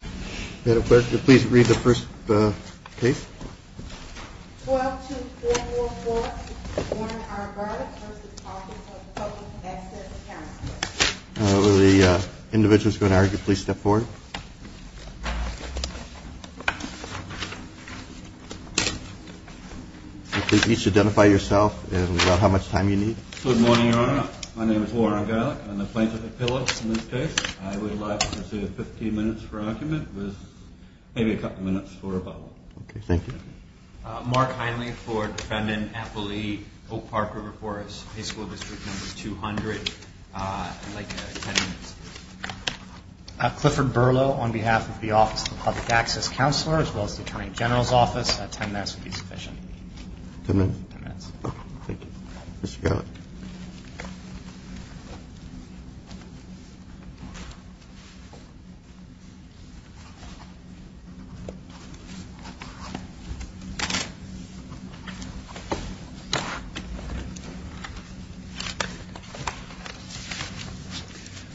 Please read the first case. 122444 Warren R. Garlick v. Office of the Public Access Counselor Will the individuals who are going to argue please step forward. Please each identify yourself and about how much time you need. Good morning, Your Honor. My name is Warren Garlick. I'm the plaintiff at Phillips in this case. I would like to proceed with 15 minutes for argument with maybe a couple minutes for rebuttal. Okay, thank you. Mark Heinle for Defendant Appley Oak Park River Forest High School District Number 200. I'd like 10 minutes. Clifford Berlow on behalf of the Office of the Public Access Counselor as well as the Attorney General's Office. 10 minutes would be sufficient. 10 minutes. 10 minutes. Thank you. Mr. Garlick.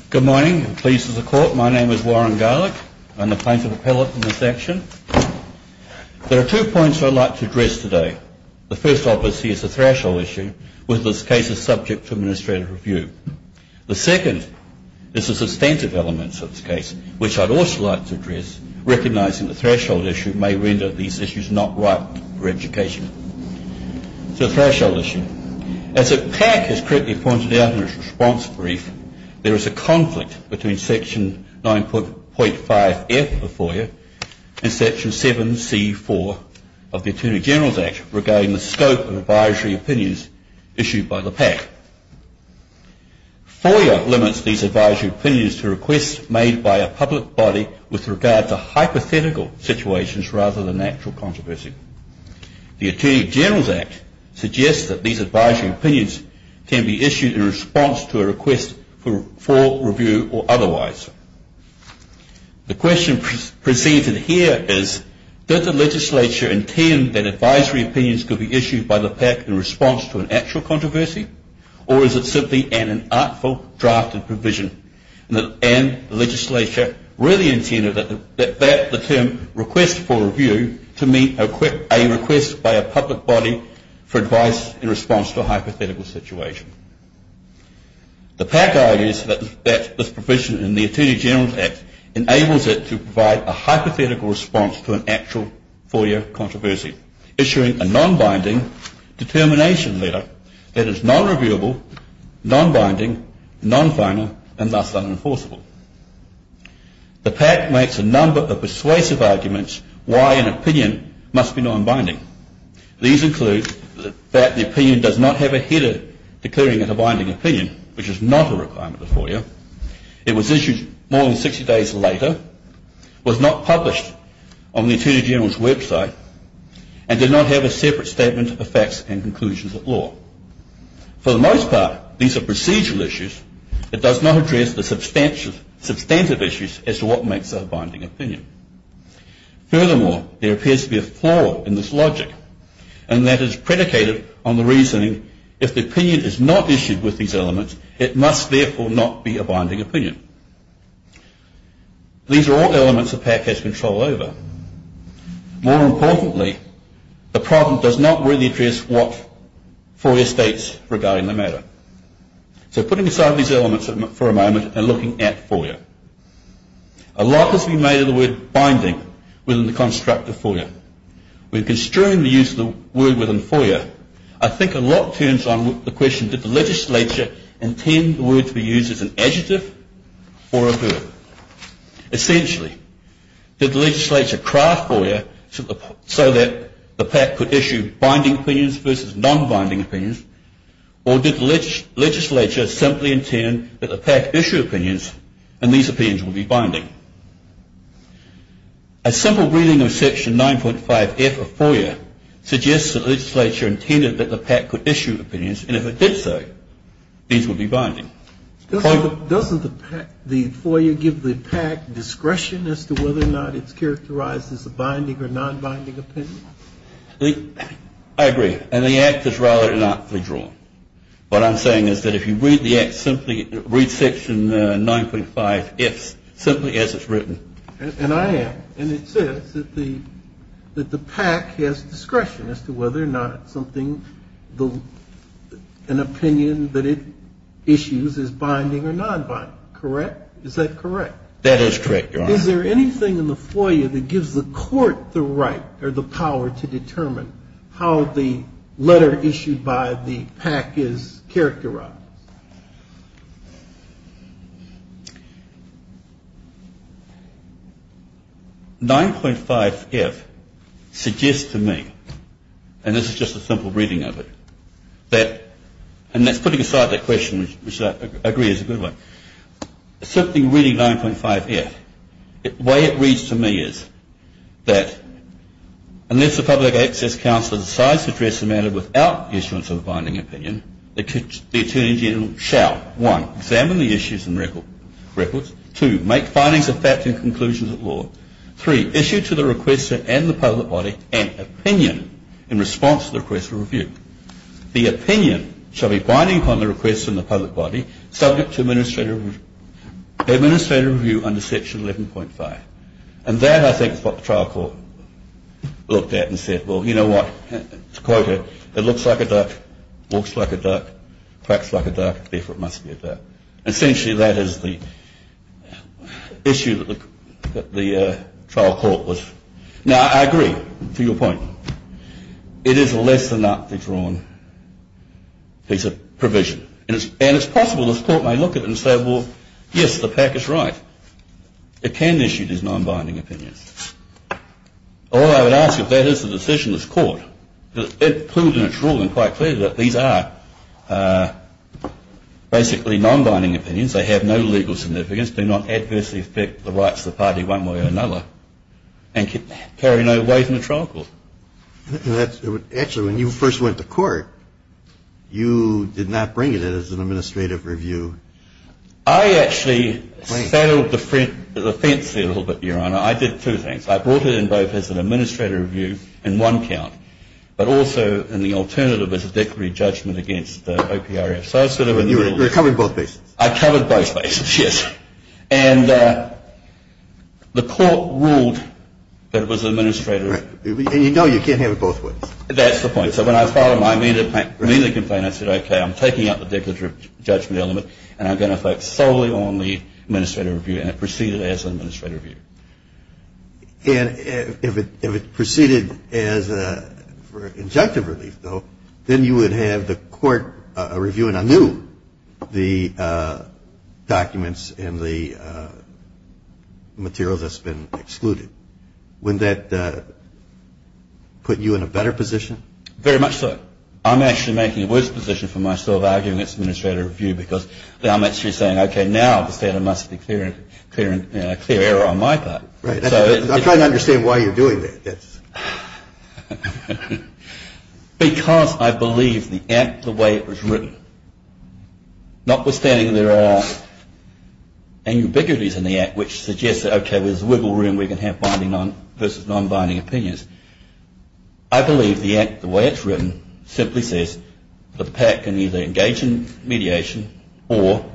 Good morning. I'm pleased as a court. My name is Warren Garlick. I'm the plaintiff appellate in this action. There are two points I'd like to address today. The first, obviously, is the threshold issue with this case is subject to administrative review. The second is the substantive elements of this case, which I'd also like to address, recognizing the threshold issue may render these issues not ripe for education. So threshold issue. As the PAC has correctly pointed out in its response brief, there is a conflict between Section 9.5F of FOIA and Section 7C4 of the Attorney General's Act regarding the scope of advisory opinions issued by the PAC. FOIA limits these advisory opinions to requests made by a public body with regard to hypothetical situations rather than actual controversy. The Attorney General's Act suggests that these advisory opinions can be issued in response to a request for review or otherwise. The question preceded here is, did the legislature intend that advisory opinions could be issued by the PAC in response to an actual controversy, or is it simply an inartful drafted provision? And the legislature really intended that the term request for review to mean a request by a public body for advice in response to a hypothetical situation. The PAC argues that this provision in the Attorney General's Act enables it to provide a hypothetical response to an actual FOIA controversy, issuing a non-binding determination letter that is non-reviewable, non-binding, non-final, and thus unenforceable. The PAC makes a number of persuasive arguments why an opinion must be non-binding. These include that the opinion does not have a header declaring it a binding opinion, which is not a requirement of FOIA, it was issued more than 60 days later, was not published on the Attorney General's website, and did not have a separate statement of facts and conclusions at law. For the most part, these are procedural issues. It does not address the substantive issues as to what makes a binding opinion. Furthermore, there appears to be a flaw in this logic, and that is predicated on the reasoning if the opinion is not issued with these elements, it must therefore not be a binding opinion. These are all elements the PAC has control over. More importantly, the problem does not really address what FOIA states regarding the matter. So putting aside these elements for a moment and looking at FOIA. A lot has been made of the word binding within the construct of FOIA. When construing the use of the word within FOIA, I think a lot turns on the question did the legislature intend the word to be used as an adjective or a verb? Essentially, did the legislature craft FOIA so that the PAC could issue binding opinions versus non-binding opinions, or did the legislature simply intend that the PAC issue opinions and these opinions would be binding? A simple reading of Section 9.5F of FOIA suggests that the legislature intended that the PAC could issue opinions, and if it did so, these would be binding. Doesn't the FOIA give the PAC discretion as to whether or not it's characterized as a binding or non-binding opinion? What I'm saying is that if you read the Act simply, read Section 9.5F simply as it's written. And I am, and it says that the PAC has discretion as to whether or not something, an opinion that it issues is binding or non-binding. Correct? Is that correct? That is correct, Your Honor. Is there anything in the FOIA that gives the court the right or the power to determine how the letter issued by the PAC is characterized? 9.5F suggests to me, and this is just a simple reading of it, that, and that's putting aside that question, which I agree is a good one, something reading 9.5F, the way it reads to me is that unless the Public Access Counselor decides to address the matter without the issuance of a binding opinion, the Attorney General shall, one, examine the issues and records, two, make findings of fact and conclusions of law, three, issue to the requester and the public body an opinion in response to the request for review. The opinion shall be binding upon the request from the public body, subject to administrative review under Section 11.5. And that, I think, is what the trial court looked at and said, well, you know what, to quote it, it looks like a duck, walks like a duck, quacks like a duck, therefore it must be a duck. Essentially, that is the issue that the trial court was... Now, I agree to your point. It is a less than aptly drawn piece of provision. And it's possible this court may look at it and say, well, yes, the PAC is right. It can issue these non-binding opinions. All I would ask of that is the decision of this court. It proved in its rule and quite clearly that these are basically non-binding opinions. They have no legal significance, do not adversely affect the rights of the party one way or another, and carry no weight in the trial court. Actually, when you first went to court, you did not bring it in as an administrative review. I actually saddled the fence there a little bit, Your Honor. I did two things. I brought it in both as an administrative review in one count, but also in the alternative as a declaratory judgment against OPRF. So I sort of... You were covering both bases. I covered both bases, yes. And the court ruled that it was an administrative... And you know you can't have it both ways. That's the point. So when I filed my mainly complaint, I said, okay, I'm taking out the declaratory judgment element, and I'm going to focus solely on the administrative review, and it proceeded as an administrative review. And if it proceeded for injunctive relief, though, then you would have the court reviewing anew the documents and the material that's been excluded. Wouldn't that put you in a better position? Very much so. I'm actually making a worse position for myself arguing it's an administrative review because I'm actually saying, okay, now the standard must be clear on my part. I'm trying to understand why you're doing that. Because I believe the act the way it was written, notwithstanding there are ambiguities in the act which suggests that, okay, there's wiggle room, we can have binding versus non-binding opinions. I believe the act the way it's written simply says that the PAC can either engage in mediation or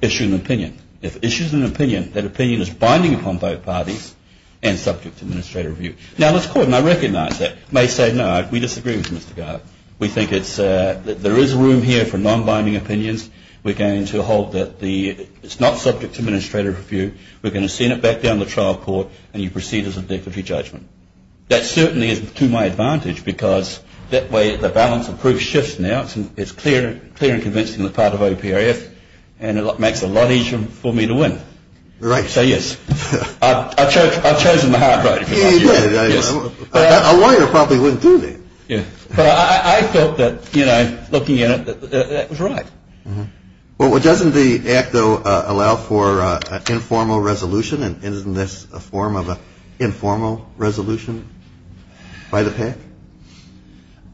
issue an opinion. If it issues an opinion, that opinion is binding upon both parties and subject to administrative review. Now, let's quote, and I recognize that, may say, no, we disagree with you, Mr. Gardner. We think there is room here for non-binding opinions. We're going to hold that it's not subject to administrative review. We're going to send it back down to the trial court and you proceed as a deputy judgment. That certainly is to my advantage because that way the balance of proof shifts now. It's clear and convincing on the part of OPRF and it makes it a lot easier for me to win. So, yes, I've chosen the hard road. A lawyer probably wouldn't do that. But I felt that, you know, looking at it, that was right. Well, doesn't the act, though, allow for informal resolution? Isn't this a form of an informal resolution by the PAC?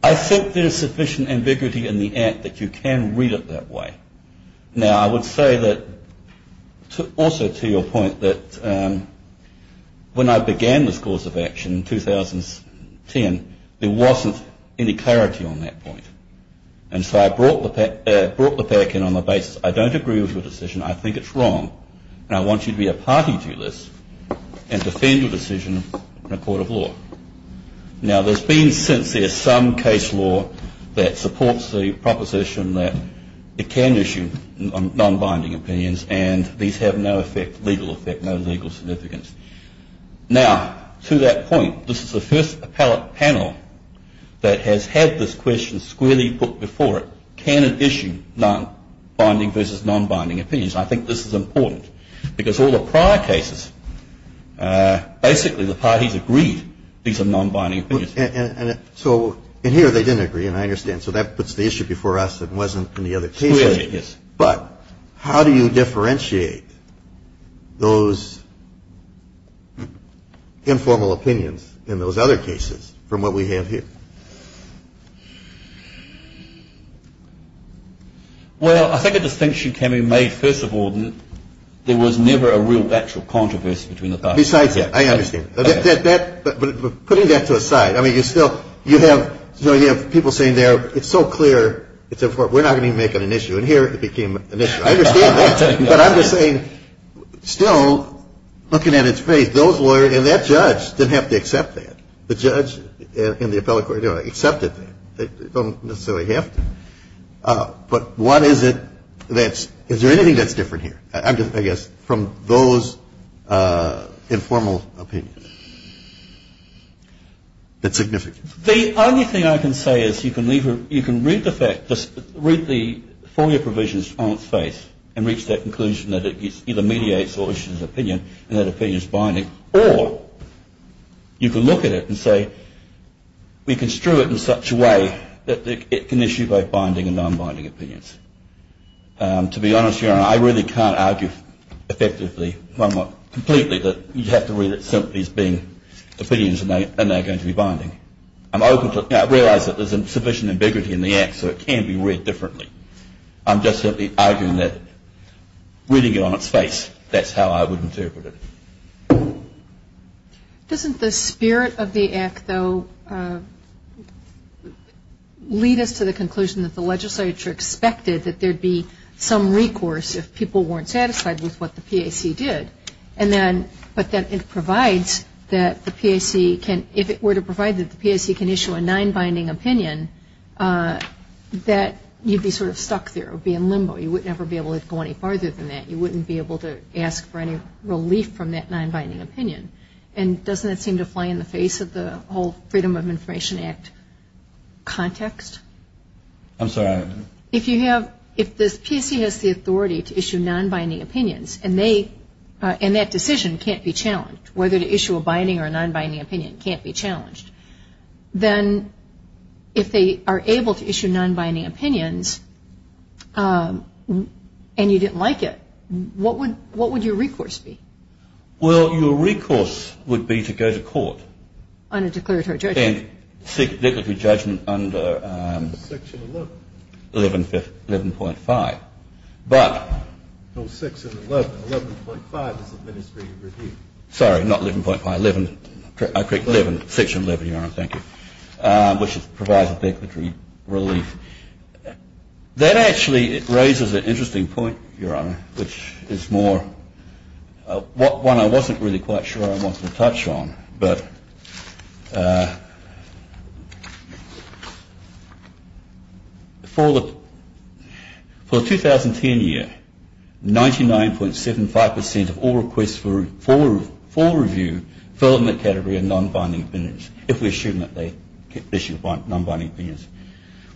I think there's sufficient ambiguity in the act that you can read it that way. Now, I would say that, also to your point, that when I began this course of action in 2010, there wasn't any clarity on that point. And so I brought the PAC in on the basis I don't agree with your decision, I think it's wrong, and I want you to be a party to this and defend your decision in a court of law. Now, there's been since there's some case law that supports the proposition that it can issue non-binding opinions and these have no effect, legal effect, no legal significance. Now, to that point, this is the first appellate panel that has had this question squarely put before it. Can it issue non-binding versus non-binding opinions? I think this is important because all the prior cases, basically the parties agreed these are non-binding opinions. And so in here they didn't agree, and I understand. So that puts the issue before us that wasn't in the other cases. Yes. But how do you differentiate those informal opinions in those other cases from what we have here? Well, I think a distinction can be made, first of all, there was never a real actual controversy between the parties. Besides that, I understand. But putting that to a side, I mean, you still have people saying it's so clear, we're not going to make it an issue. And here it became an issue. I understand that. But I'm just saying, still, looking at its face, those lawyers and that judge didn't have to accept that. The judge and the appellate court accepted that. They don't necessarily have to. But what is it that's – is there anything that's different here, I guess, from those informal opinions that's significant? The only thing I can say is you can read the fact – read the FOIA provisions on its face, and reach that conclusion that it either mediates or issues an opinion, and that opinion's binding. Or you can look at it and say, we construe it in such a way that it can issue both binding and non-binding opinions. To be honest, Your Honour, I really can't argue effectively, if I'm not completely, that you have to read it simply as being opinions and they're going to be binding. I'm open to – I realize that there's sufficient ambiguity in the Act so it can be read differently. I'm just simply arguing that reading it on its face, that's how I would interpret it. Doesn't the spirit of the Act, though, lead us to the conclusion that the legislature expected that there'd be some recourse if people weren't satisfied with what the PAC did? And then – but that it provides that the PAC can – if it were to provide that the PAC can issue a non-binding opinion, that you'd be sort of stuck there or be in limbo. You would never be able to go any farther than that. You wouldn't be able to ask for any relief from that non-binding opinion. And doesn't that seem to fly in the face of the whole Freedom of Information Act context? I'm sorry? If you have – if the PAC has the authority to issue non-binding opinions and they – and that decision can't be challenged, whether to issue a binding or a non-binding opinion can't be challenged, then if they are able to issue non-binding opinions and you didn't like it, what would your recourse be? Well, your recourse would be to go to court. On a declaratory judgment. And a declaratory judgment under – Section 11. 11.5. But – No, 6 and 11. 11.5 is administrative review. Sorry, not 11.5. 11 – I correct. Section 11, Your Honor. Thank you. Which provides a declaratory relief. That actually raises an interesting point, Your Honor, which is more – one I wasn't really quite sure I wanted to touch on. But for the 2010 year, 99.75% of all requests for review fell in the category of non-binding opinions, if we assume that they issued non-binding opinions.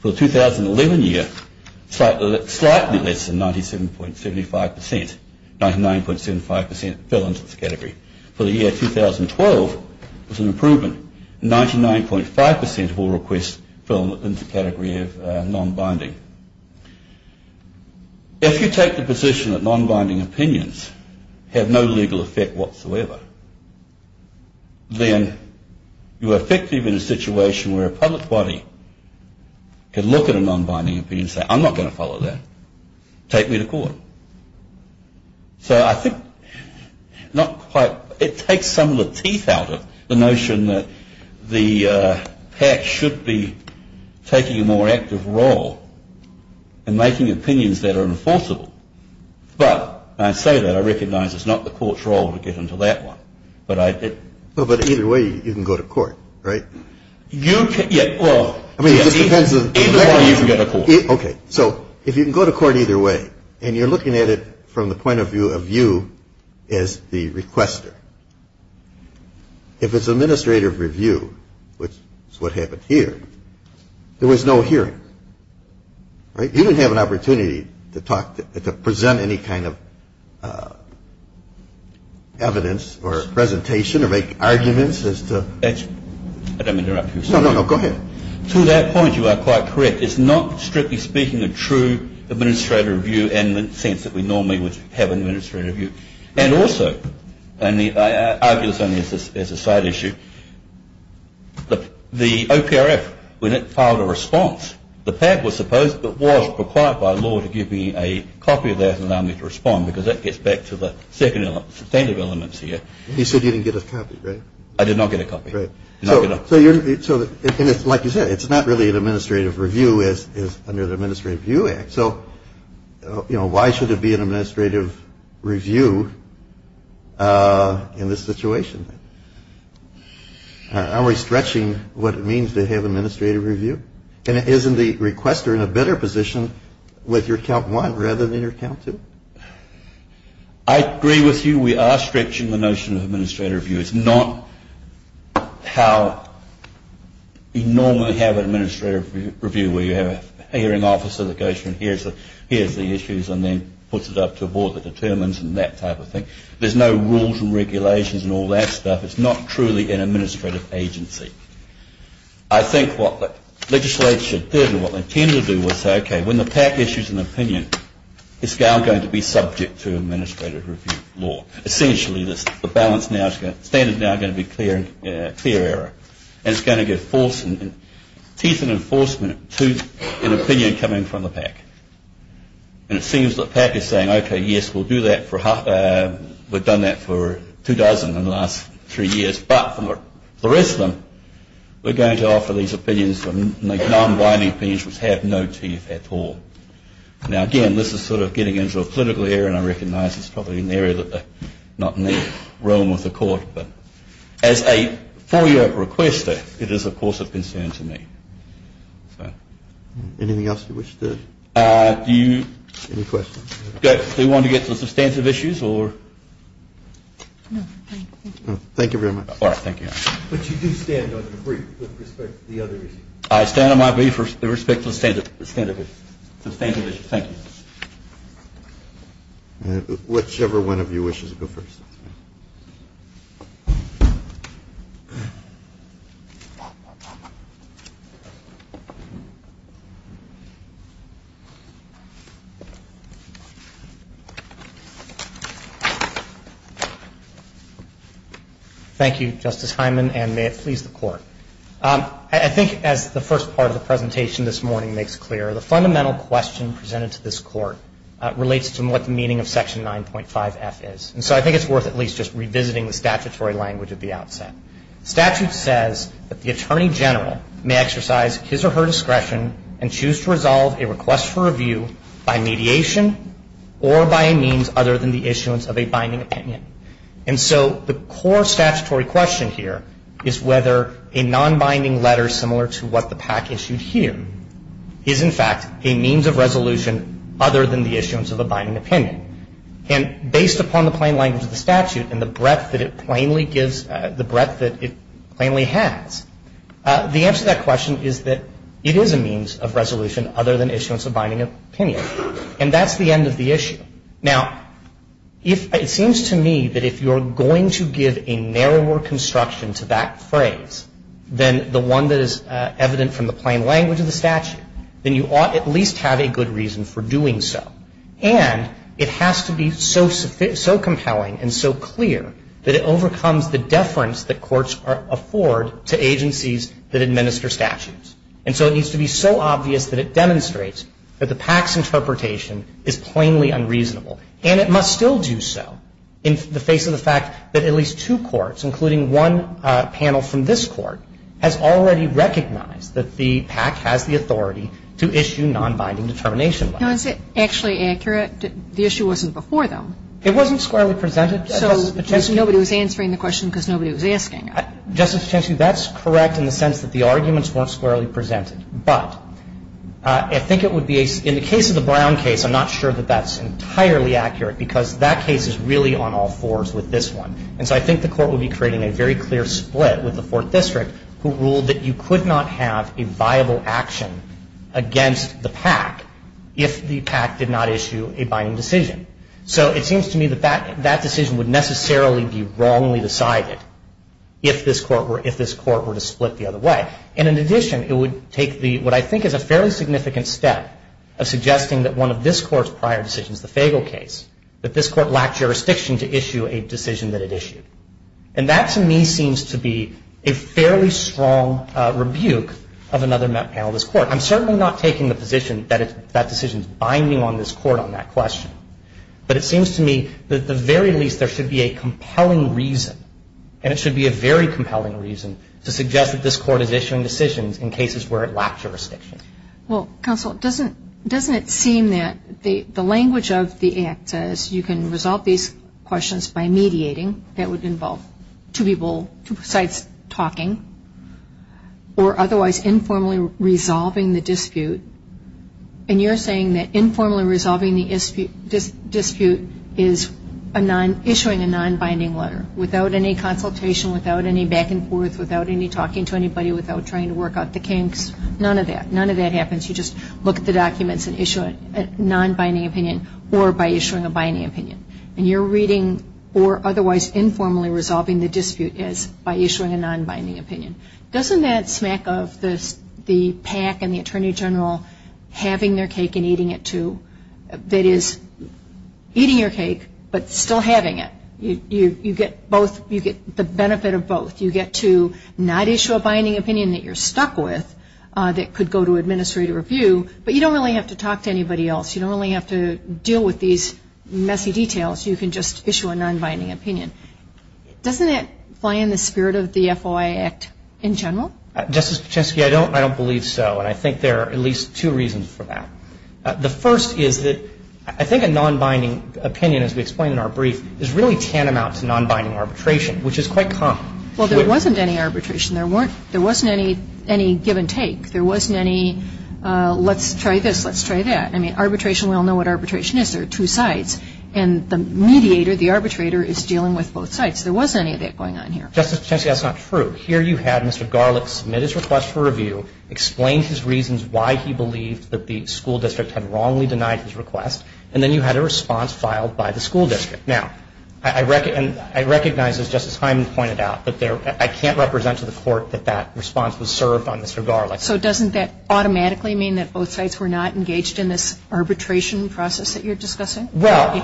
For the 2011 year, slightly less than 97.75%, 99.75% fell into this category. For the year 2012, there was an improvement. 99.5% of all requests fell into the category of non-binding. If you take the position that non-binding opinions have no legal effect whatsoever, then you are effectively in a situation where a public body can look at a non-binding opinion and say, I'm not going to follow that. Take me to court. So I think not quite – it takes some of the teeth out of the notion that the PAC should be taking a more active role in making opinions that are enforceable. But when I say that, I recognize it's not the court's role to get into that one. But I – But either way, you can go to court, right? You can – yeah, well – I mean, it just depends on – Either way, you can go to court. Okay. So if you can go to court either way, and you're looking at it from the point of view of you as the requester, if it's administrative review, which is what happened here, there was no hearing, right? You didn't have an opportunity to talk – to present any kind of evidence or presentation or make arguments as to – I don't mean to interrupt you, sir. No, no, no. Go ahead. To that point, you are quite correct. It's not, strictly speaking, a true administrative review in the sense that we normally would have an administrative review. And also – and I argue this only as a side issue – the OPRF, when it filed a response, the PAP was supposed – but was required by law to give me a copy of that and allow me to respond because that gets back to the second element, the substantive elements here. You said you didn't get a copy, right? I did not get a copy. Right. So you're – and like you said, it's not really an administrative review as under the Administrative Review Act. So, you know, why should it be an administrative review in this situation? Are we stretching what it means to have administrative review? And isn't the requester in a better position with your count one rather than your count two? I agree with you. We are stretching the notion of administrative review. It's not how you normally have an administrative review where you have a hearing officer that goes through and hears the issues and then puts it up to a board that determines and that type of thing. There's no rules and regulations and all that stuff. It's not truly an administrative agency. I think what legislators should do and what they tend to do is say, okay, when the PAC issues an opinion, it's now going to be subject to administrative review law. Essentially, the balance now – standard now is going to be clear error. And it's going to give force and teeth and enforcement to an opinion coming from the PAC. And it seems that PAC is saying, okay, yes, we'll do that. We've done that for two dozen in the last three years. But for the rest of them, we're going to offer these opinions, non-binding opinions, which have no teeth at all. Now, again, this is sort of getting into a political area, and I recognize it's probably an area that they're not in the realm of the court. But as a four-year requester, it is, of course, a concern to me. Anything else you wish to – any questions? Do you want to get to substantive issues or – No, thank you. Thank you very much. All right. Thank you. But you do stand on your brief with respect to the other issues. I stand on my brief with respect to the substantive issues. Thank you. Whichever one of you wishes to go first. Thank you. Thank you, Justice Hyman, and may it please the Court. I think, as the first part of the presentation this morning makes clear, the fundamental question presented to this Court relates to what the meaning of Section 9.5F is. And so I think it's worth at least just revisiting the statutory language at the outset. The statute says that the attorney general may exercise his or her discretion and choose to resolve a request for review by mediation or by a means other than the issuance of a binding opinion. And so the core statutory question here is whether a nonbinding letter, similar to what the PAC issued here, is, in fact, a means of resolution other than the issuance of a binding opinion. And based upon the plain language of the statute and the breadth that it plainly gives, the breadth that it plainly has, the answer to that question is that it is a means of resolution other than issuance of binding opinion. And that's the end of the issue. Now, it seems to me that if you're going to give a narrower construction to that phrase than the one that is evident from the plain language of the statute, then you ought at least have a good reason for doing so. And it has to be so compelling and so clear that it overcomes the deference that courts afford to agencies that administer statutes. And so it needs to be so obvious that it demonstrates that the PAC's interpretation is plainly unreasonable. And it must still do so in the face of the fact that at least two courts, including one panel from this Court, has already recognized that the PAC has the authority to issue nonbinding determination against the PAC. Now, is it actually accurate? The issue wasn't before them. It wasn't squarely presented. So nobody was answering the question because nobody was asking. Justice Kagan, that's correct in the sense that the arguments weren't squarely presented. But I think it would be, in the case of the Brown case, I'm not sure that that's entirely accurate because that case is really on all fours with this one. And so I think the Court would be creating a very clear split with the Fourth District who ruled that you could not have a viable action against the PAC if the PAC did not issue a binding decision. So it seems to me that that decision would necessarily be wrongly decided if this Court were to split the other way. And in addition, it would take what I think is a fairly significant step of suggesting that one of this Court's prior decisions, the Fagel case, that this Court lacked jurisdiction to issue a decision that it issued. And that, to me, seems to be a fairly strong rebuke of another panel of this Court. I'm certainly not taking the position that that decision is binding on this Court on that question. But it seems to me that, at the very least, there should be a compelling reason, and it should be a very compelling reason, to suggest that this Court is issuing decisions in cases where it lacked jurisdiction. Well, counsel, doesn't it seem that the language of the Act says you can resolve these questions by mediating? That would involve two people, two sides talking. Or otherwise informally resolving the dispute. And you're saying that informally resolving the dispute is issuing a non-binding letter, without any consultation, without any back-and-forth, without any talking to anybody, without trying to work out the kinks. None of that. None of that happens. You just look at the documents and issue a non-binding opinion, or by issuing a binding opinion. And you're reading, or otherwise informally resolving the dispute, is by issuing a non-binding opinion. Doesn't that smack of the PAC and the Attorney General having their cake and eating it, too? That is, eating your cake, but still having it. You get the benefit of both. You get to not issue a binding opinion that you're stuck with, that could go to administrative review. But you don't really have to talk to anybody else. You don't really have to deal with these messy details. You can just issue a non-binding opinion. Doesn't that fly in the spirit of the FOIA Act in general? Justice Pacheski, I don't believe so. And I think there are at least two reasons for that. The first is that I think a non-binding opinion, as we explained in our brief, is really tantamount to non-binding arbitration, which is quite common. Well, there wasn't any arbitration. There wasn't any give and take. There wasn't any let's try this, let's try that. I mean, arbitration, we all know what arbitration is. There are two sides. And the mediator, the arbitrator, is dealing with both sides. There wasn't any of that going on here. Justice Pacheski, that's not true. Here you had Mr. Garlick submit his request for review, explain his reasons why he believed that the school district had wrongly denied his request, and then you had a response filed by the school district. Now, I recognize, as Justice Hyman pointed out, that I can't represent to the Court that that response was served on Mr. Garlick. So doesn't that automatically mean that both sides were not engaged in this arbitration process that you're discussing? Well,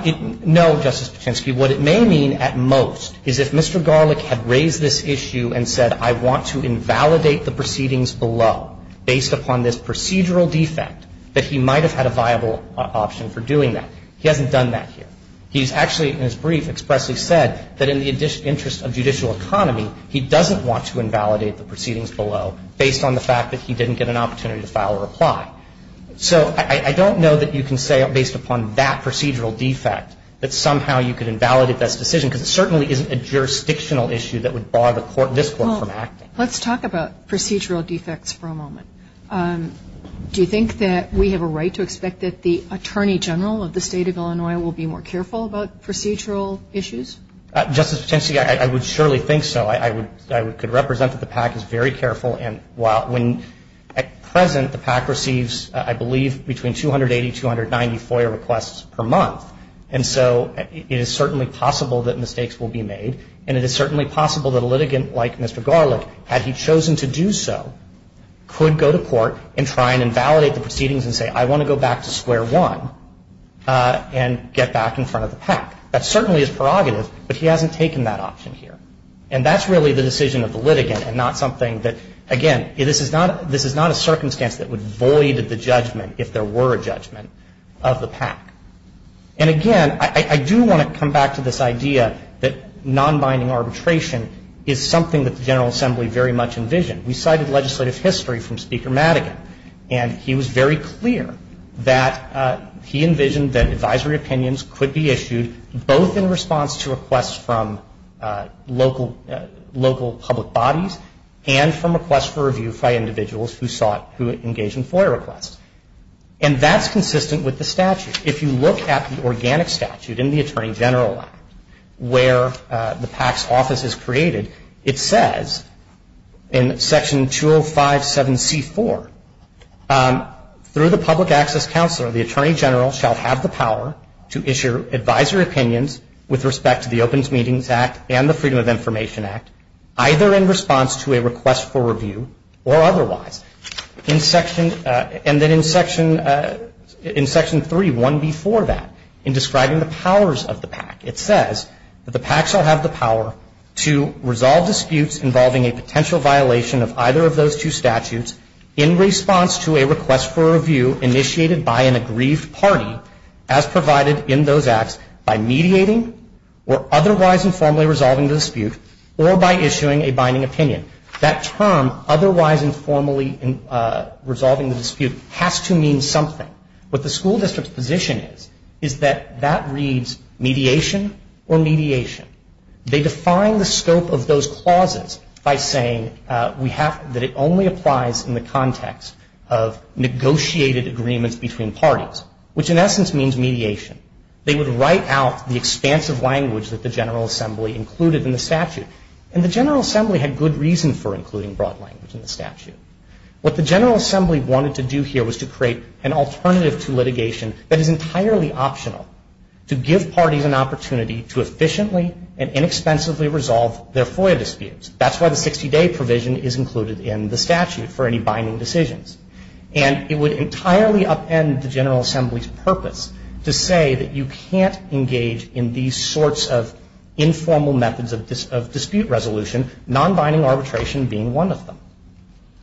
no, Justice Pacheski. What it may mean at most is if Mr. Garlick had raised this issue and said, I want to invalidate the proceedings below based upon this procedural defect, that he might have had a viable option for doing that. He hasn't done that here. He's actually in his brief expressly said that in the interest of judicial economy, he doesn't want to invalidate the proceedings below based on the fact that he didn't get an opportunity to file a reply. So I don't know that you can say based upon that procedural defect that somehow you could invalidate this decision because it certainly isn't a jurisdictional issue that would bar this Court from acting. Well, let's talk about procedural defects for a moment. Do you think that we have a right to expect that the Attorney General of the State of Illinois will be more careful about procedural issues? Justice Pacheski, I would surely think so. I could represent that the PAC is very careful. And while when at present the PAC receives, I believe, between 280, 290 FOIA requests per month. And so it is certainly possible that mistakes will be made. And it is certainly possible that a litigant like Mr. Garlick, had he chosen to do so, could go to court and try and invalidate the proceedings and say, I want to go back to square one and get back in front of the PAC. That certainly is prerogative, but he hasn't taken that option here. And that's really the decision of the litigant and not something that, again, this is not a circumstance that would void the judgment if there were a judgment of the PAC. And, again, I do want to come back to this idea that nonbinding arbitration is something that the General Assembly very much envisioned. We cited legislative history from Speaker Madigan. And he was very clear that he envisioned that advisory opinions could be issued both in response to requests from local public bodies and from requests for review by individuals who engaged in FOIA requests. And that's consistent with the statute. If you look at the organic statute in the Attorney General Act where the PAC's office is created, it says in Section 205-7C-4, through the public access counselor the attorney general shall have the power to issue advisory opinions with respect to the Open Meetings Act and the Freedom of Information Act, either in response to a request for review or otherwise. And then in Section 3, one before that, in describing the powers of the PAC, it says that the PAC shall have the power to resolve disputes involving a potential violation of either of those two statutes in response to a request for review initiated by an aggrieved party as provided in those acts by mediating or otherwise informally resolving the dispute or by issuing a binding opinion. That term, otherwise informally resolving the dispute, has to mean something. What the school district's position is, is that that reads mediation or mediation. They define the scope of those clauses by saying that it only applies in the context of negotiated agreements between parties, which in essence means mediation. They would write out the expansive language that the General Assembly included in the statute. And the General Assembly had good reason for including broad language in the statute. What the General Assembly wanted to do here was to create an alternative to litigation that is entirely optional to give parties an opportunity to efficiently and inexpensively resolve their FOIA disputes. That's why the 60-day provision is included in the statute for any binding decisions. And it would entirely upend the General Assembly's purpose to say that you can't engage in these sorts of informal methods of dispute resolution, non-binding arbitration being one of them.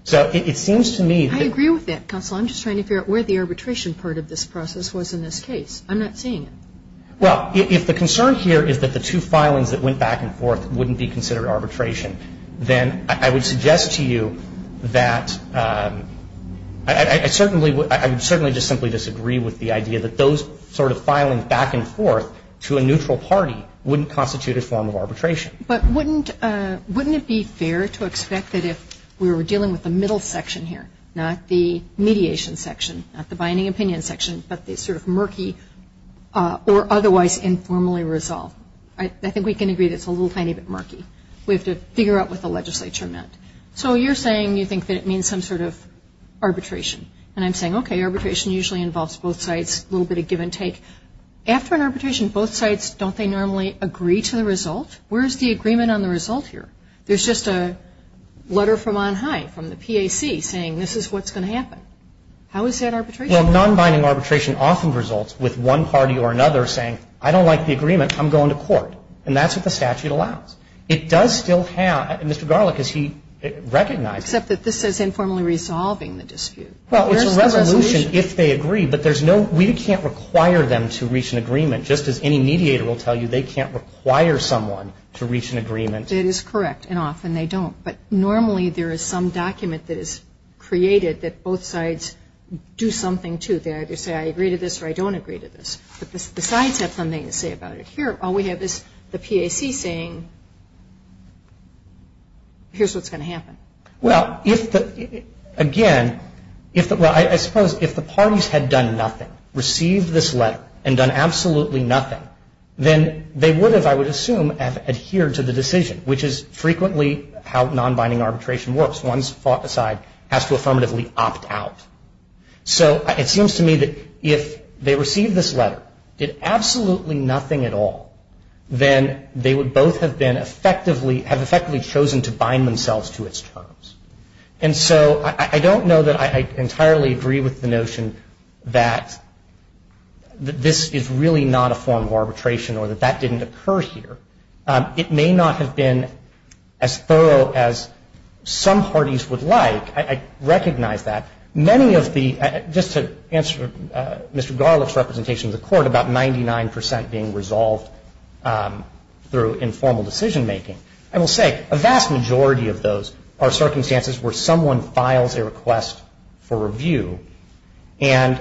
So it seems to me that I agree with that, counsel. I'm just trying to figure out where the arbitration part of this process was in this case. I'm not seeing it. Well, if the concern here is that the two filings that went back and forth wouldn't be considered arbitration, then I would suggest to you that I certainly would – I would certainly just simply disagree with the idea that those sort of filings back and forth to a neutral party wouldn't constitute a form of arbitration. But wouldn't – wouldn't it be fair to expect that if we were dealing with the middle section here, not the mediation section, not the binding opinion section, but the sort of murky or otherwise informally resolved – I think we can agree that it's a little tiny bit murky. We have to figure out what the legislature meant. So you're saying you think that it means some sort of arbitration. And I'm saying, okay, arbitration usually involves both sides, a little bit of give and take. After an arbitration, both sides, don't they normally agree to the result? Where's the agreement on the result here? There's just a letter from on high, from the PAC, saying this is what's going to happen. How is that arbitration? Well, nonbinding arbitration often results with one party or another saying, I don't like the agreement, I'm going to court. And that's what the statute allows. It does still have – Mr. Garlick, is he recognizing – Except that this says informally resolving the dispute. Well, it's a resolution if they agree, but there's no – we can't require them to reach an agreement, just as any mediator will tell you they can't require someone to reach an agreement. That is correct, and often they don't. But normally there is some document that is created that both sides do something to. They either say, I agree to this or I don't agree to this. But the sides have something to say about it. Here, all we have is the PAC saying, here's what's going to happen. Well, if the – again, if the – well, I suppose if the parties had done nothing, received this letter, and done absolutely nothing, then they would have, I would assume, adhered to the decision, which is frequently how nonbinding arbitration works. One side has to affirmatively opt out. So it seems to me that if they received this letter, did absolutely nothing at all, then they would both have been effectively – have effectively chosen to bind themselves to its terms. And so I don't know that I entirely agree with the notion that this is really not a form of arbitration or that that didn't occur here. It may not have been as thorough as some parties would like. I recognize that. Many of the – just to answer Mr. Garlick's representation of the Court, about 99 percent being resolved through informal decision-making. I will say, a vast majority of those are circumstances where someone files a request for review. And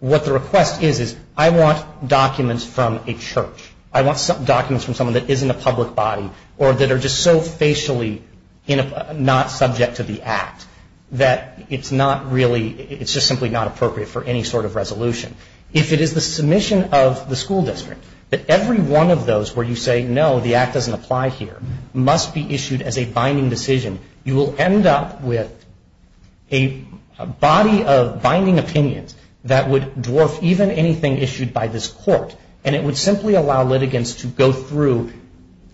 what the request is, is I want documents from a church. I want documents from someone that is in the public body or that are just so facially not subject to the Act that it's not really – it's just simply not appropriate for any sort of resolution. If it is the submission of the school district, that every one of those where you say, no, the Act doesn't apply here, must be issued as a binding decision, you will end up with a body of binding opinions that would dwarf even anything issued by this Court. And it would simply allow litigants to go through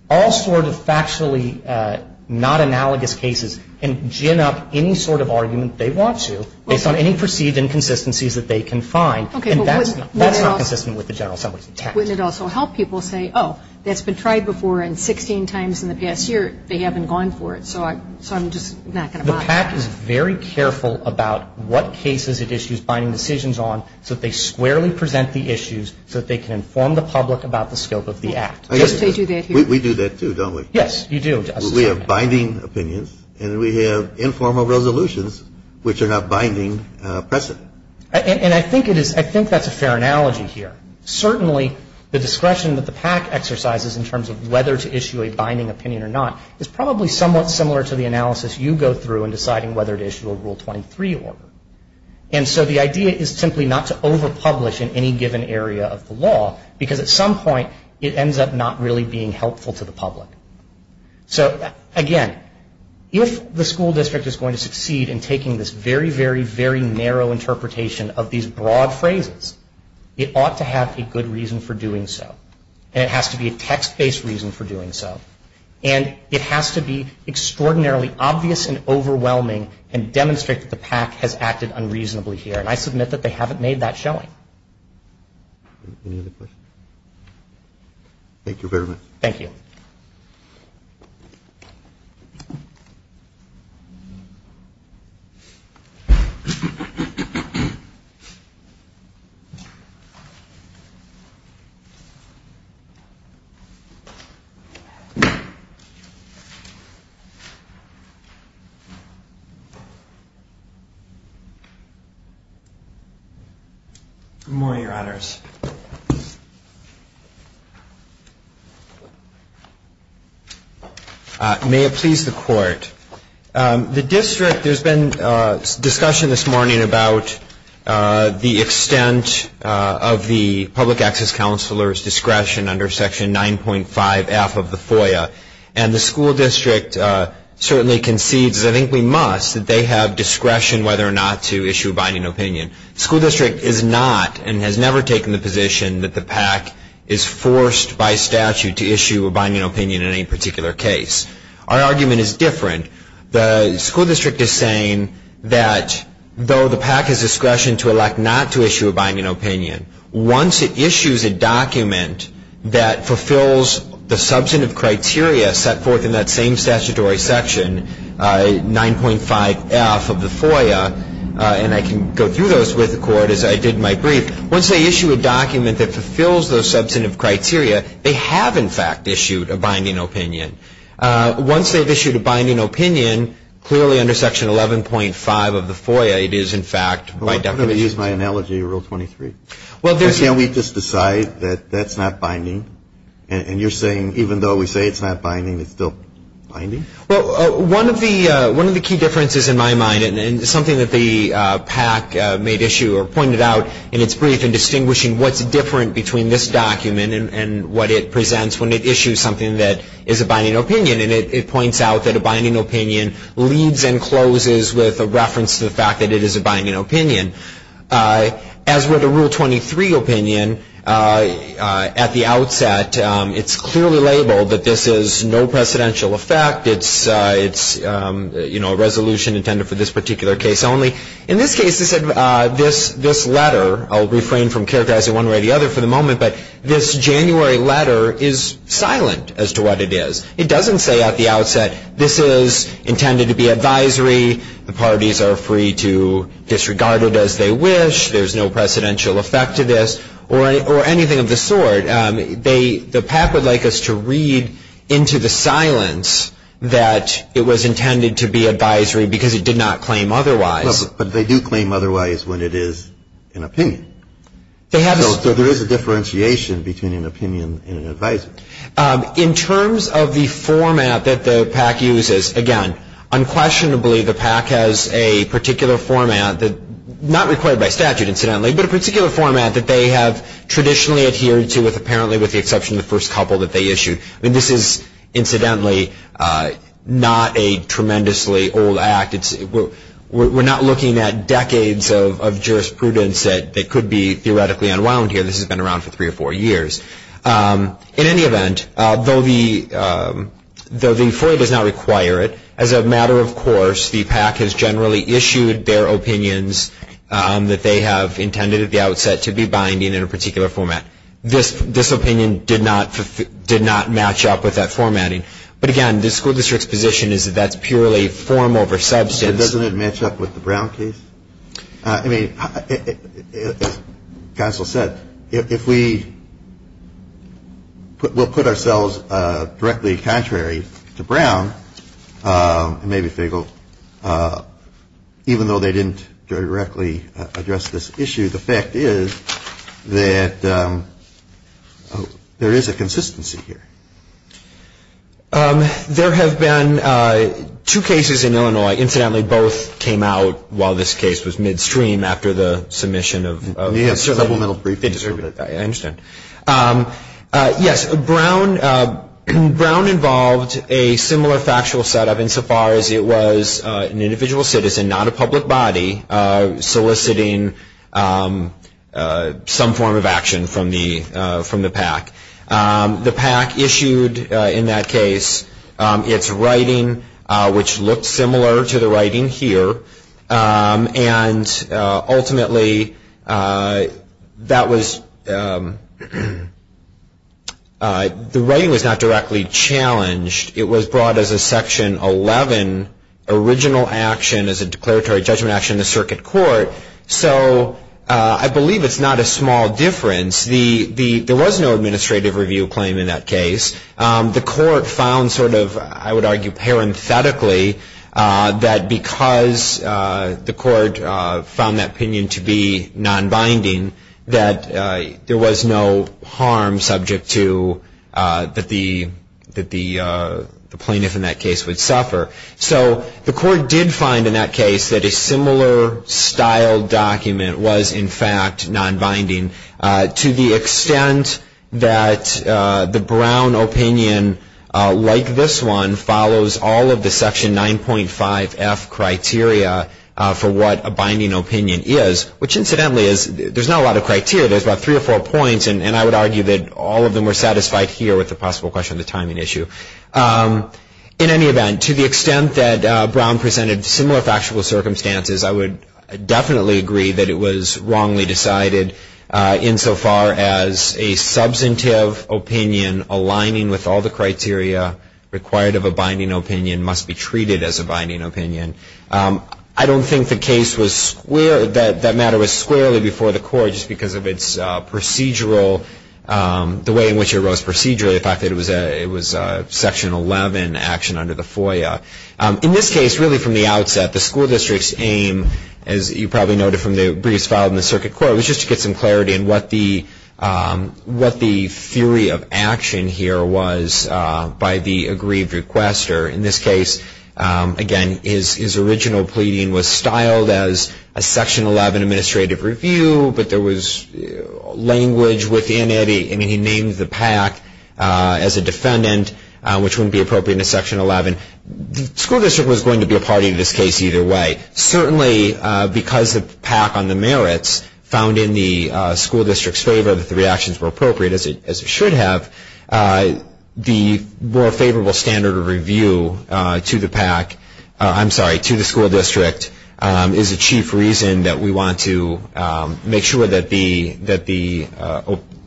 all sort of factually not analogous cases and gin up any sort of argument they want to based on any perceived inconsistencies that they can find. And that's not consistent with the General Assembly's intent. Wouldn't it also help people say, oh, that's been tried before and 16 times in the past year, they haven't gone for it. So I'm just not going to buy that. The PAC is very careful about what cases it issues binding decisions on so that they squarely present the issues so that they can inform the public about the scope of the Act. I guess they do that here. We do that too, don't we? Yes, you do. We have binding opinions and we have informal resolutions which are not binding precedent. And I think that's a fair analogy here. Certainly the discretion that the PAC exercises in terms of whether to issue a binding opinion or not is probably somewhat similar to the analysis you go through in deciding whether to issue a Rule 23 order. And so the idea is simply not to overpublish in any given area of the law because at some point it ends up not really being helpful to the public. So again, if the school district is going to succeed in taking this very, very, very narrow interpretation of these broad phrases, it ought to have a good reason for doing so. And it has to be a text-based reason for doing so. And it has to be extraordinarily obvious and overwhelming and demonstrate that the PAC has acted unreasonably here. And I submit that they haven't made that showing. Any other questions? Thank you very much. Thank you. Thank you. Thank you. Thank you. Come on, you ratters. May it please the court. The district, there's been discussion this morning about the extent of the public access counselor's discretion under Section 9.5F of the FOIA, and the school district certainly concedes, as I think we must, that they have discretion whether or not to issue a binding opinion. The school district is not and has never taken the position that the PAC is forced by statute to issue a binding opinion in any particular case. Our argument is different. The school district is saying that though the PAC has discretion to elect not to issue a binding opinion, once it issues a document that fulfills the substantive criteria set forth in that same statutory section, Section 9.5F of the FOIA, and I can go through those with the court as I did in my brief, once they issue a document that fulfills those substantive criteria, they have, in fact, issued a binding opinion. Once they've issued a binding opinion, clearly under Section 11.5 of the FOIA, it is, in fact, my definition. I'm going to use my analogy, Rule 23. Can't we just decide that that's not binding? And you're saying even though we say it's not binding, it's still binding? Well, one of the key differences in my mind, and it's something that the PAC made issue or pointed out in its brief in distinguishing what's different between this document and what it presents when it issues something that is a binding opinion, and it points out that a binding opinion leads and closes with a reference to the fact that it is a binding opinion. As with a Rule 23 opinion, at the outset, it's clearly labeled that this is no precedential effect. It's a resolution intended for this particular case only. In this case, this letter, I'll refrain from characterizing one way or the other for the moment, but this January letter is silent as to what it is. It doesn't say at the outset, this is intended to be advisory. The parties are free to disregard it as they wish. There's no precedential effect to this or anything of the sort. The PAC would like us to read into the silence that it was intended to be advisory because it did not claim otherwise. But they do claim otherwise when it is an opinion. So there is a differentiation between an opinion and an advisory. In terms of the format that the PAC uses, again, unquestionably the PAC has a particular format, not required by statute incidentally, but a particular format that they have traditionally adhered to, apparently with the exception of the first couple that they issued. This is incidentally not a tremendously old act. We're not looking at decades of jurisprudence that could be theoretically unwound here. This has been around for three or four years. In any event, though the FOIA does not require it, as a matter of course, the PAC has generally issued their opinions that they have intended at the outset to be binding in a particular format. This opinion did not match up with that formatting. But again, the school district's position is that that's purely form over substance. So doesn't it match up with the Brown case? I mean, as counsel said, if we will put ourselves directly contrary to Brown, maybe FIGL, even though they didn't directly address this issue, the fact is that there is a consistency here. There have been two cases in Illinois. Incidentally, both came out while this case was midstream after the submission of the subliminal brief. I understand. Yes, Brown involved a similar factual setup insofar as it was an individual citizen, not a public body, soliciting some form of action from the PAC. The PAC issued in that case its writing, which looked similar to the writing here. And ultimately, that was the writing was not directly challenged. It was brought as a Section 11 original action as a declaratory judgment action in the circuit court. So I believe it's not a small difference. There was no administrative review claim in that case. The court found sort of, I would argue parenthetically, that because the court found that opinion to be nonbinding, that there was no harm subject to that the plaintiff in that case would suffer. So the court did find in that case that a similar style document was, in fact, nonbinding, to the extent that the Brown opinion, like this one, follows all of the Section 9.5F criteria for what a binding opinion is, which, incidentally, there's not a lot of criteria. There's about three or four points, and I would argue that all of them were satisfied here with the possible question of the timing issue. In any event, to the extent that Brown presented similar factual circumstances, I would definitely agree that it was wrongly decided, insofar as a substantive opinion aligning with all the criteria required of a binding opinion must be treated as a binding opinion. I don't think that matter was squarely before the court, just because of its procedural, the way in which it arose procedurally, the fact that it was Section 11 action under the FOIA. In this case, really from the outset, the school district's aim, as you probably noted from the briefs filed in the circuit court, was just to get some clarity in what the theory of action here was by the aggrieved requester. In this case, again, his original pleading was styled as a Section 11 administrative review, but there was language within it. I mean, he named the PAC as a defendant, which wouldn't be appropriate in a Section 11. The school district was going to be a party to this case either way. Certainly, because the PAC on the merits found in the school district's favor that the reactions were appropriate, as it should have, the more favorable standard of review to the PAC, I'm sorry, to the school district, is a chief reason that we want to make sure that the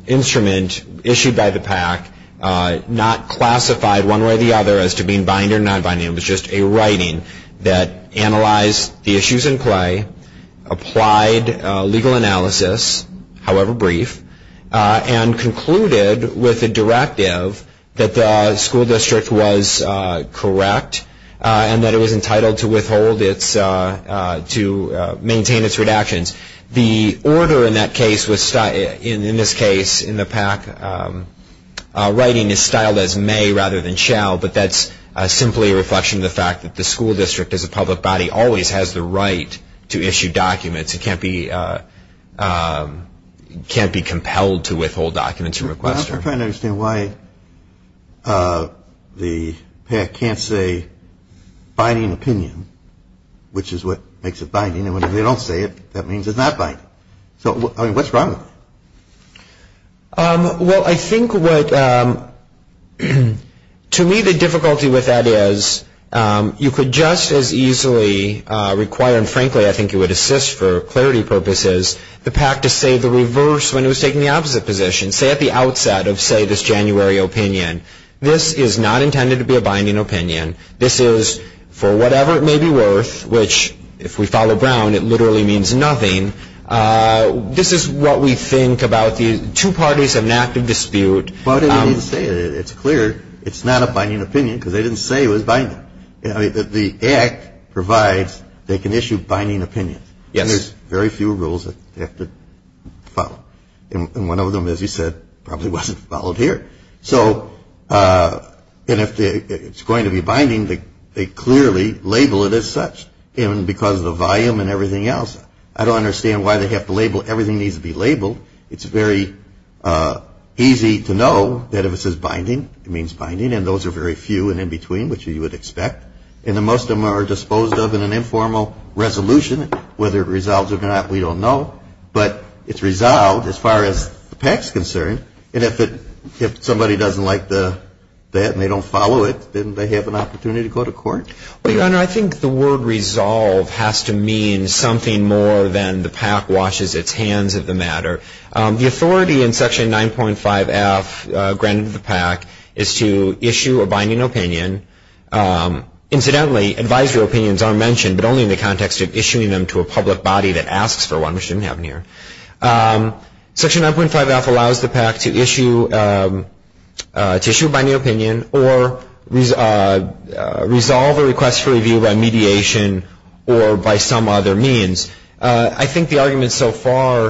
instrument issued by the PAC, not classified one way or the other as to being binding or non-binding, it was just a writing that analyzed the issues in play, applied legal analysis, however brief, and concluded with a directive that the school district was correct and that it was entitled to withhold its, to maintain its redactions. The order in that case was, in this case, in the PAC, writing is styled as may rather than shall, but that's simply a reflection of the fact that the school district as a public body always has the right to issue documents. It can't be compelled to withhold documents from a requester. I'm trying to understand why the PAC can't say binding opinion, which is what makes it binding, and when they don't say it, that means it's not binding. So, I mean, what's wrong with it? Well, I think what, to me, the difficulty with that is you could just as easily require, and frankly I think it would assist for clarity purposes, the PAC to say the reverse when it was taking the opposite position. Say at the outset of, say, this January opinion, this is not intended to be a binding opinion. This is, for whatever it may be worth, which if we follow Brown, it literally means nothing, this is what we think about the two parties of an active dispute. But it's clear it's not a binding opinion because they didn't say it was binding. The act provides they can issue binding opinions. Yes. Very few rules that they have to follow. And one of them, as you said, probably wasn't followed here. So, and if it's going to be binding, they clearly label it as such because of the volume and everything else. I don't understand why they have to label everything needs to be labeled. It's very easy to know that if it says binding, it means binding, and those are very few and in between, which you would expect. And most of them are disposed of in an informal resolution. Whether it resolves or not, we don't know. But it's resolved as far as the PAC is concerned. And if somebody doesn't like that and they don't follow it, then they have an opportunity to go to court? Well, Your Honor, I think the word resolve has to mean something more than the PAC washes its hands of the matter. The authority in Section 9.5F granted to the PAC is to issue a binding opinion. Incidentally, advisory opinions are mentioned, but only in the context of issuing them to a public body that asks for one, which didn't happen here. Section 9.5F allows the PAC to issue a binding opinion or resolve a request for review by mediation or by some other means. I think the arguments so far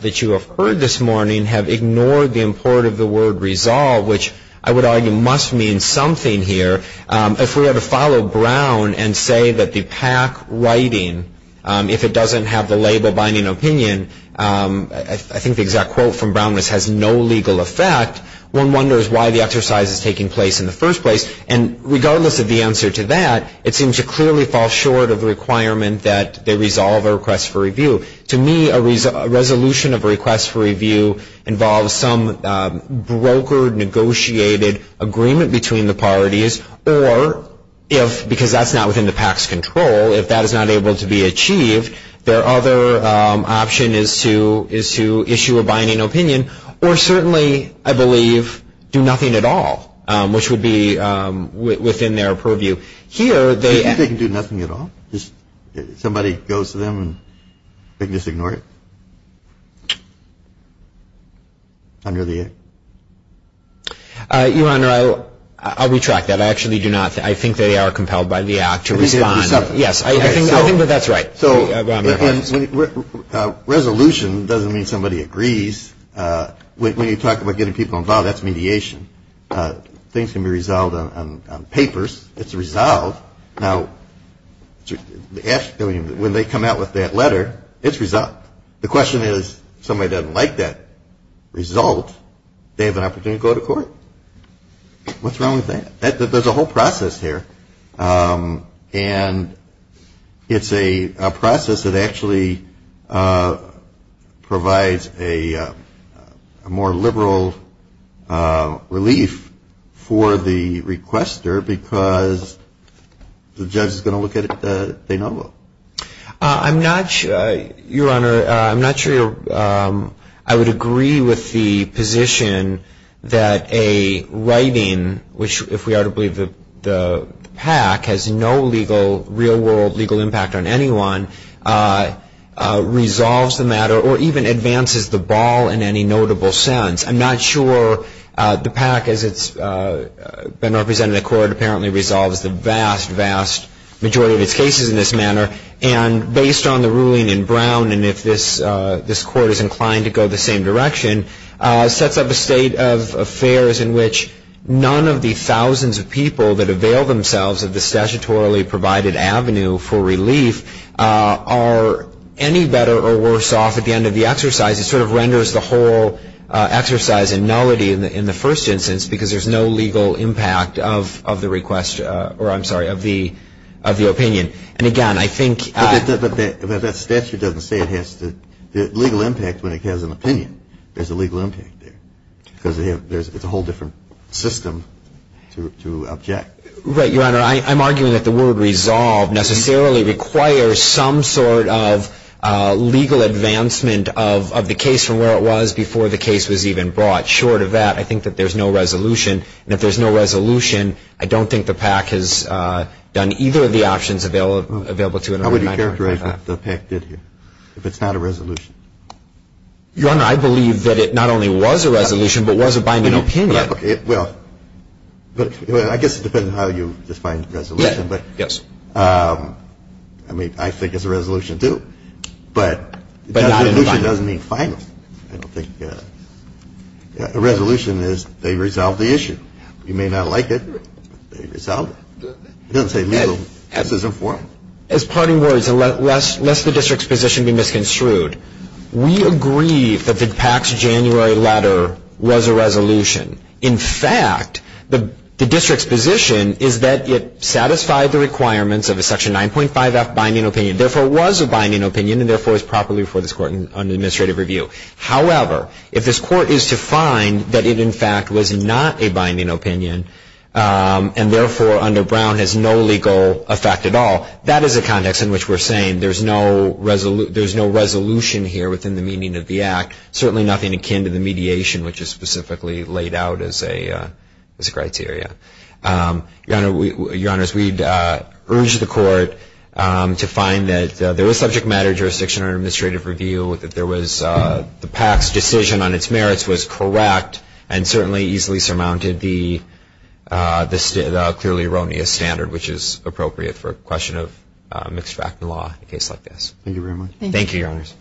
that you have heard this morning have ignored the import of the word resolve, which I would argue must mean something here. If we were to follow Brown and say that the PAC writing, if it doesn't have the label binding opinion, I think the exact quote from Brown was, has no legal effect, one wonders why the exercise is taking place in the first place. And regardless of the answer to that, it seems to clearly fall short of the requirement that they resolve a request for review. To me, a resolution of a request for review involves some brokered, negotiated agreement between the parties, or if, because that's not within the PAC's control, if that is not able to be achieved, their other option is to issue a binding opinion, or certainly, I believe, do nothing at all, which would be within their purview. Here, they ‑‑ You think they can do nothing at all? Somebody goes to them and they can just ignore it? Under the act? Your Honor, I'll retract that. I actually do not. I think they are compelled by the act to respond. Yes, I think that that's right. So resolution doesn't mean somebody agrees. When you talk about getting people involved, that's mediation. Things can be resolved on papers. It's resolved. Now, when they come out with that letter, it's resolved. The question is, if somebody doesn't like that result, they have an opportunity to go to court. What's wrong with that? There's a whole process here. And it's a process that actually provides a more liberal relief for the requester because the judge is going to look at it, they know. I'm not sure, Your Honor, I'm not sure I would agree with the position that a writing, which if we are to believe the PAC has no legal, real-world legal impact on anyone, resolves the matter or even advances the ball in any notable sense. I'm not sure the PAC, as it's been represented in court, apparently resolves the vast, vast majority of its cases in this manner. And based on the ruling in Brown, and if this court is inclined to go the same direction, sets up a state of affairs in which none of the thousands of people that avail themselves of the statutorily provided avenue for relief are any better or worse off at the end of the exercise. It sort of renders the whole exercise in nullity in the first instance because there's no legal impact of the request, or I'm sorry, of the opinion. And, again, I think — But that statute doesn't say it has the legal impact when it has an opinion. There's a legal impact there because it's a whole different system to object. Right, Your Honor. I'm arguing that the word resolve necessarily requires some sort of legal advancement of the case from where it was before the case was even brought. Short of that, I think that there's no resolution. And if there's no resolution, I don't think the PAC has done either of the options available to it. How would you characterize what the PAC did here if it's not a resolution? Your Honor, I believe that it not only was a resolution but was a binding opinion. Okay. Well, I guess it depends on how you define resolution. Yes. I mean, I think it's a resolution, too. But a resolution doesn't mean final. I don't think a resolution is they resolve the issue. You may not like it, but they resolved it. It doesn't say legal. This is informal. As parting words, lest the district's position be misconstrued, we agree that the PAC's January letter was a resolution. In fact, the district's position is that it satisfied the requirements of a Section 9.5F binding opinion, therefore was a binding opinion, and therefore is properly before this Court under administrative review. However, if this Court is to find that it, in fact, was not a binding opinion and therefore under Brown has no legal effect at all, that is a context in which we're saying there's no resolution here within the meaning of the Act, certainly nothing akin to the mediation which is specifically laid out as a criteria. Your Honors, we'd urge the Court to find that there was subject matter jurisdiction under administrative review, that the PAC's decision on its merits was correct and certainly easily surmounted the clearly erroneous standard which is appropriate for a question of mixed-factor law in a case like this. Thank you very much. Thank you, Your Honors.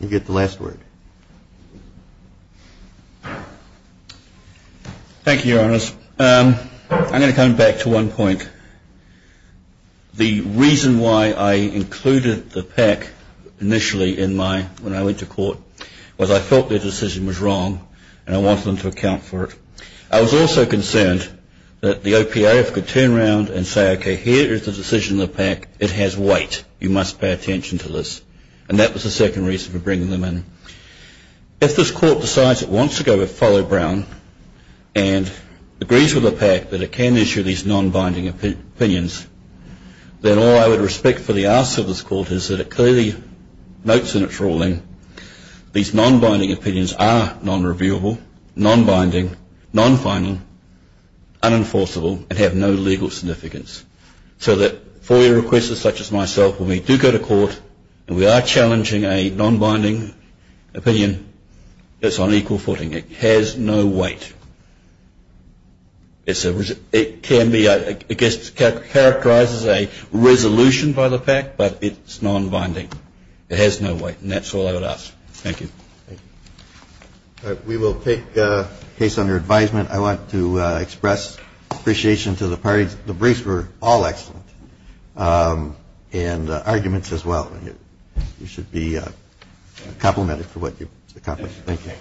You get the last word. Thank you, Your Honors. I'm going to come back to one point. The reason why I included the PAC initially when I went to Court was I felt their decision was wrong and I wanted them to account for it. I was also concerned that the OPA, if it could turn around and say, okay, here is the decision of the PAC, it has weight, you must pay attention to this. And that was the second reason for bringing them in. If this Court decides it wants to go with Fallow-Brown and agrees with the PAC that it can issue these non-binding opinions, then all I would respectfully ask of this Court is that it clearly notes in its ruling these non-binding opinions are non-reviewable, non-binding, non-fining, unenforceable, and have no legal significance. So that FOIA requests such as myself, when we do go to Court and we are challenging a non-binding opinion, it's on equal footing. It has no weight. It can be characterized as a resolution by the PAC, but it's non-binding. It has no weight, and that's all I would ask. Thank you. We will take case under advisement. I want to express appreciation to the parties. The briefs were all excellent, and the arguments as well. You should be complimented for what you accomplished. Thank you.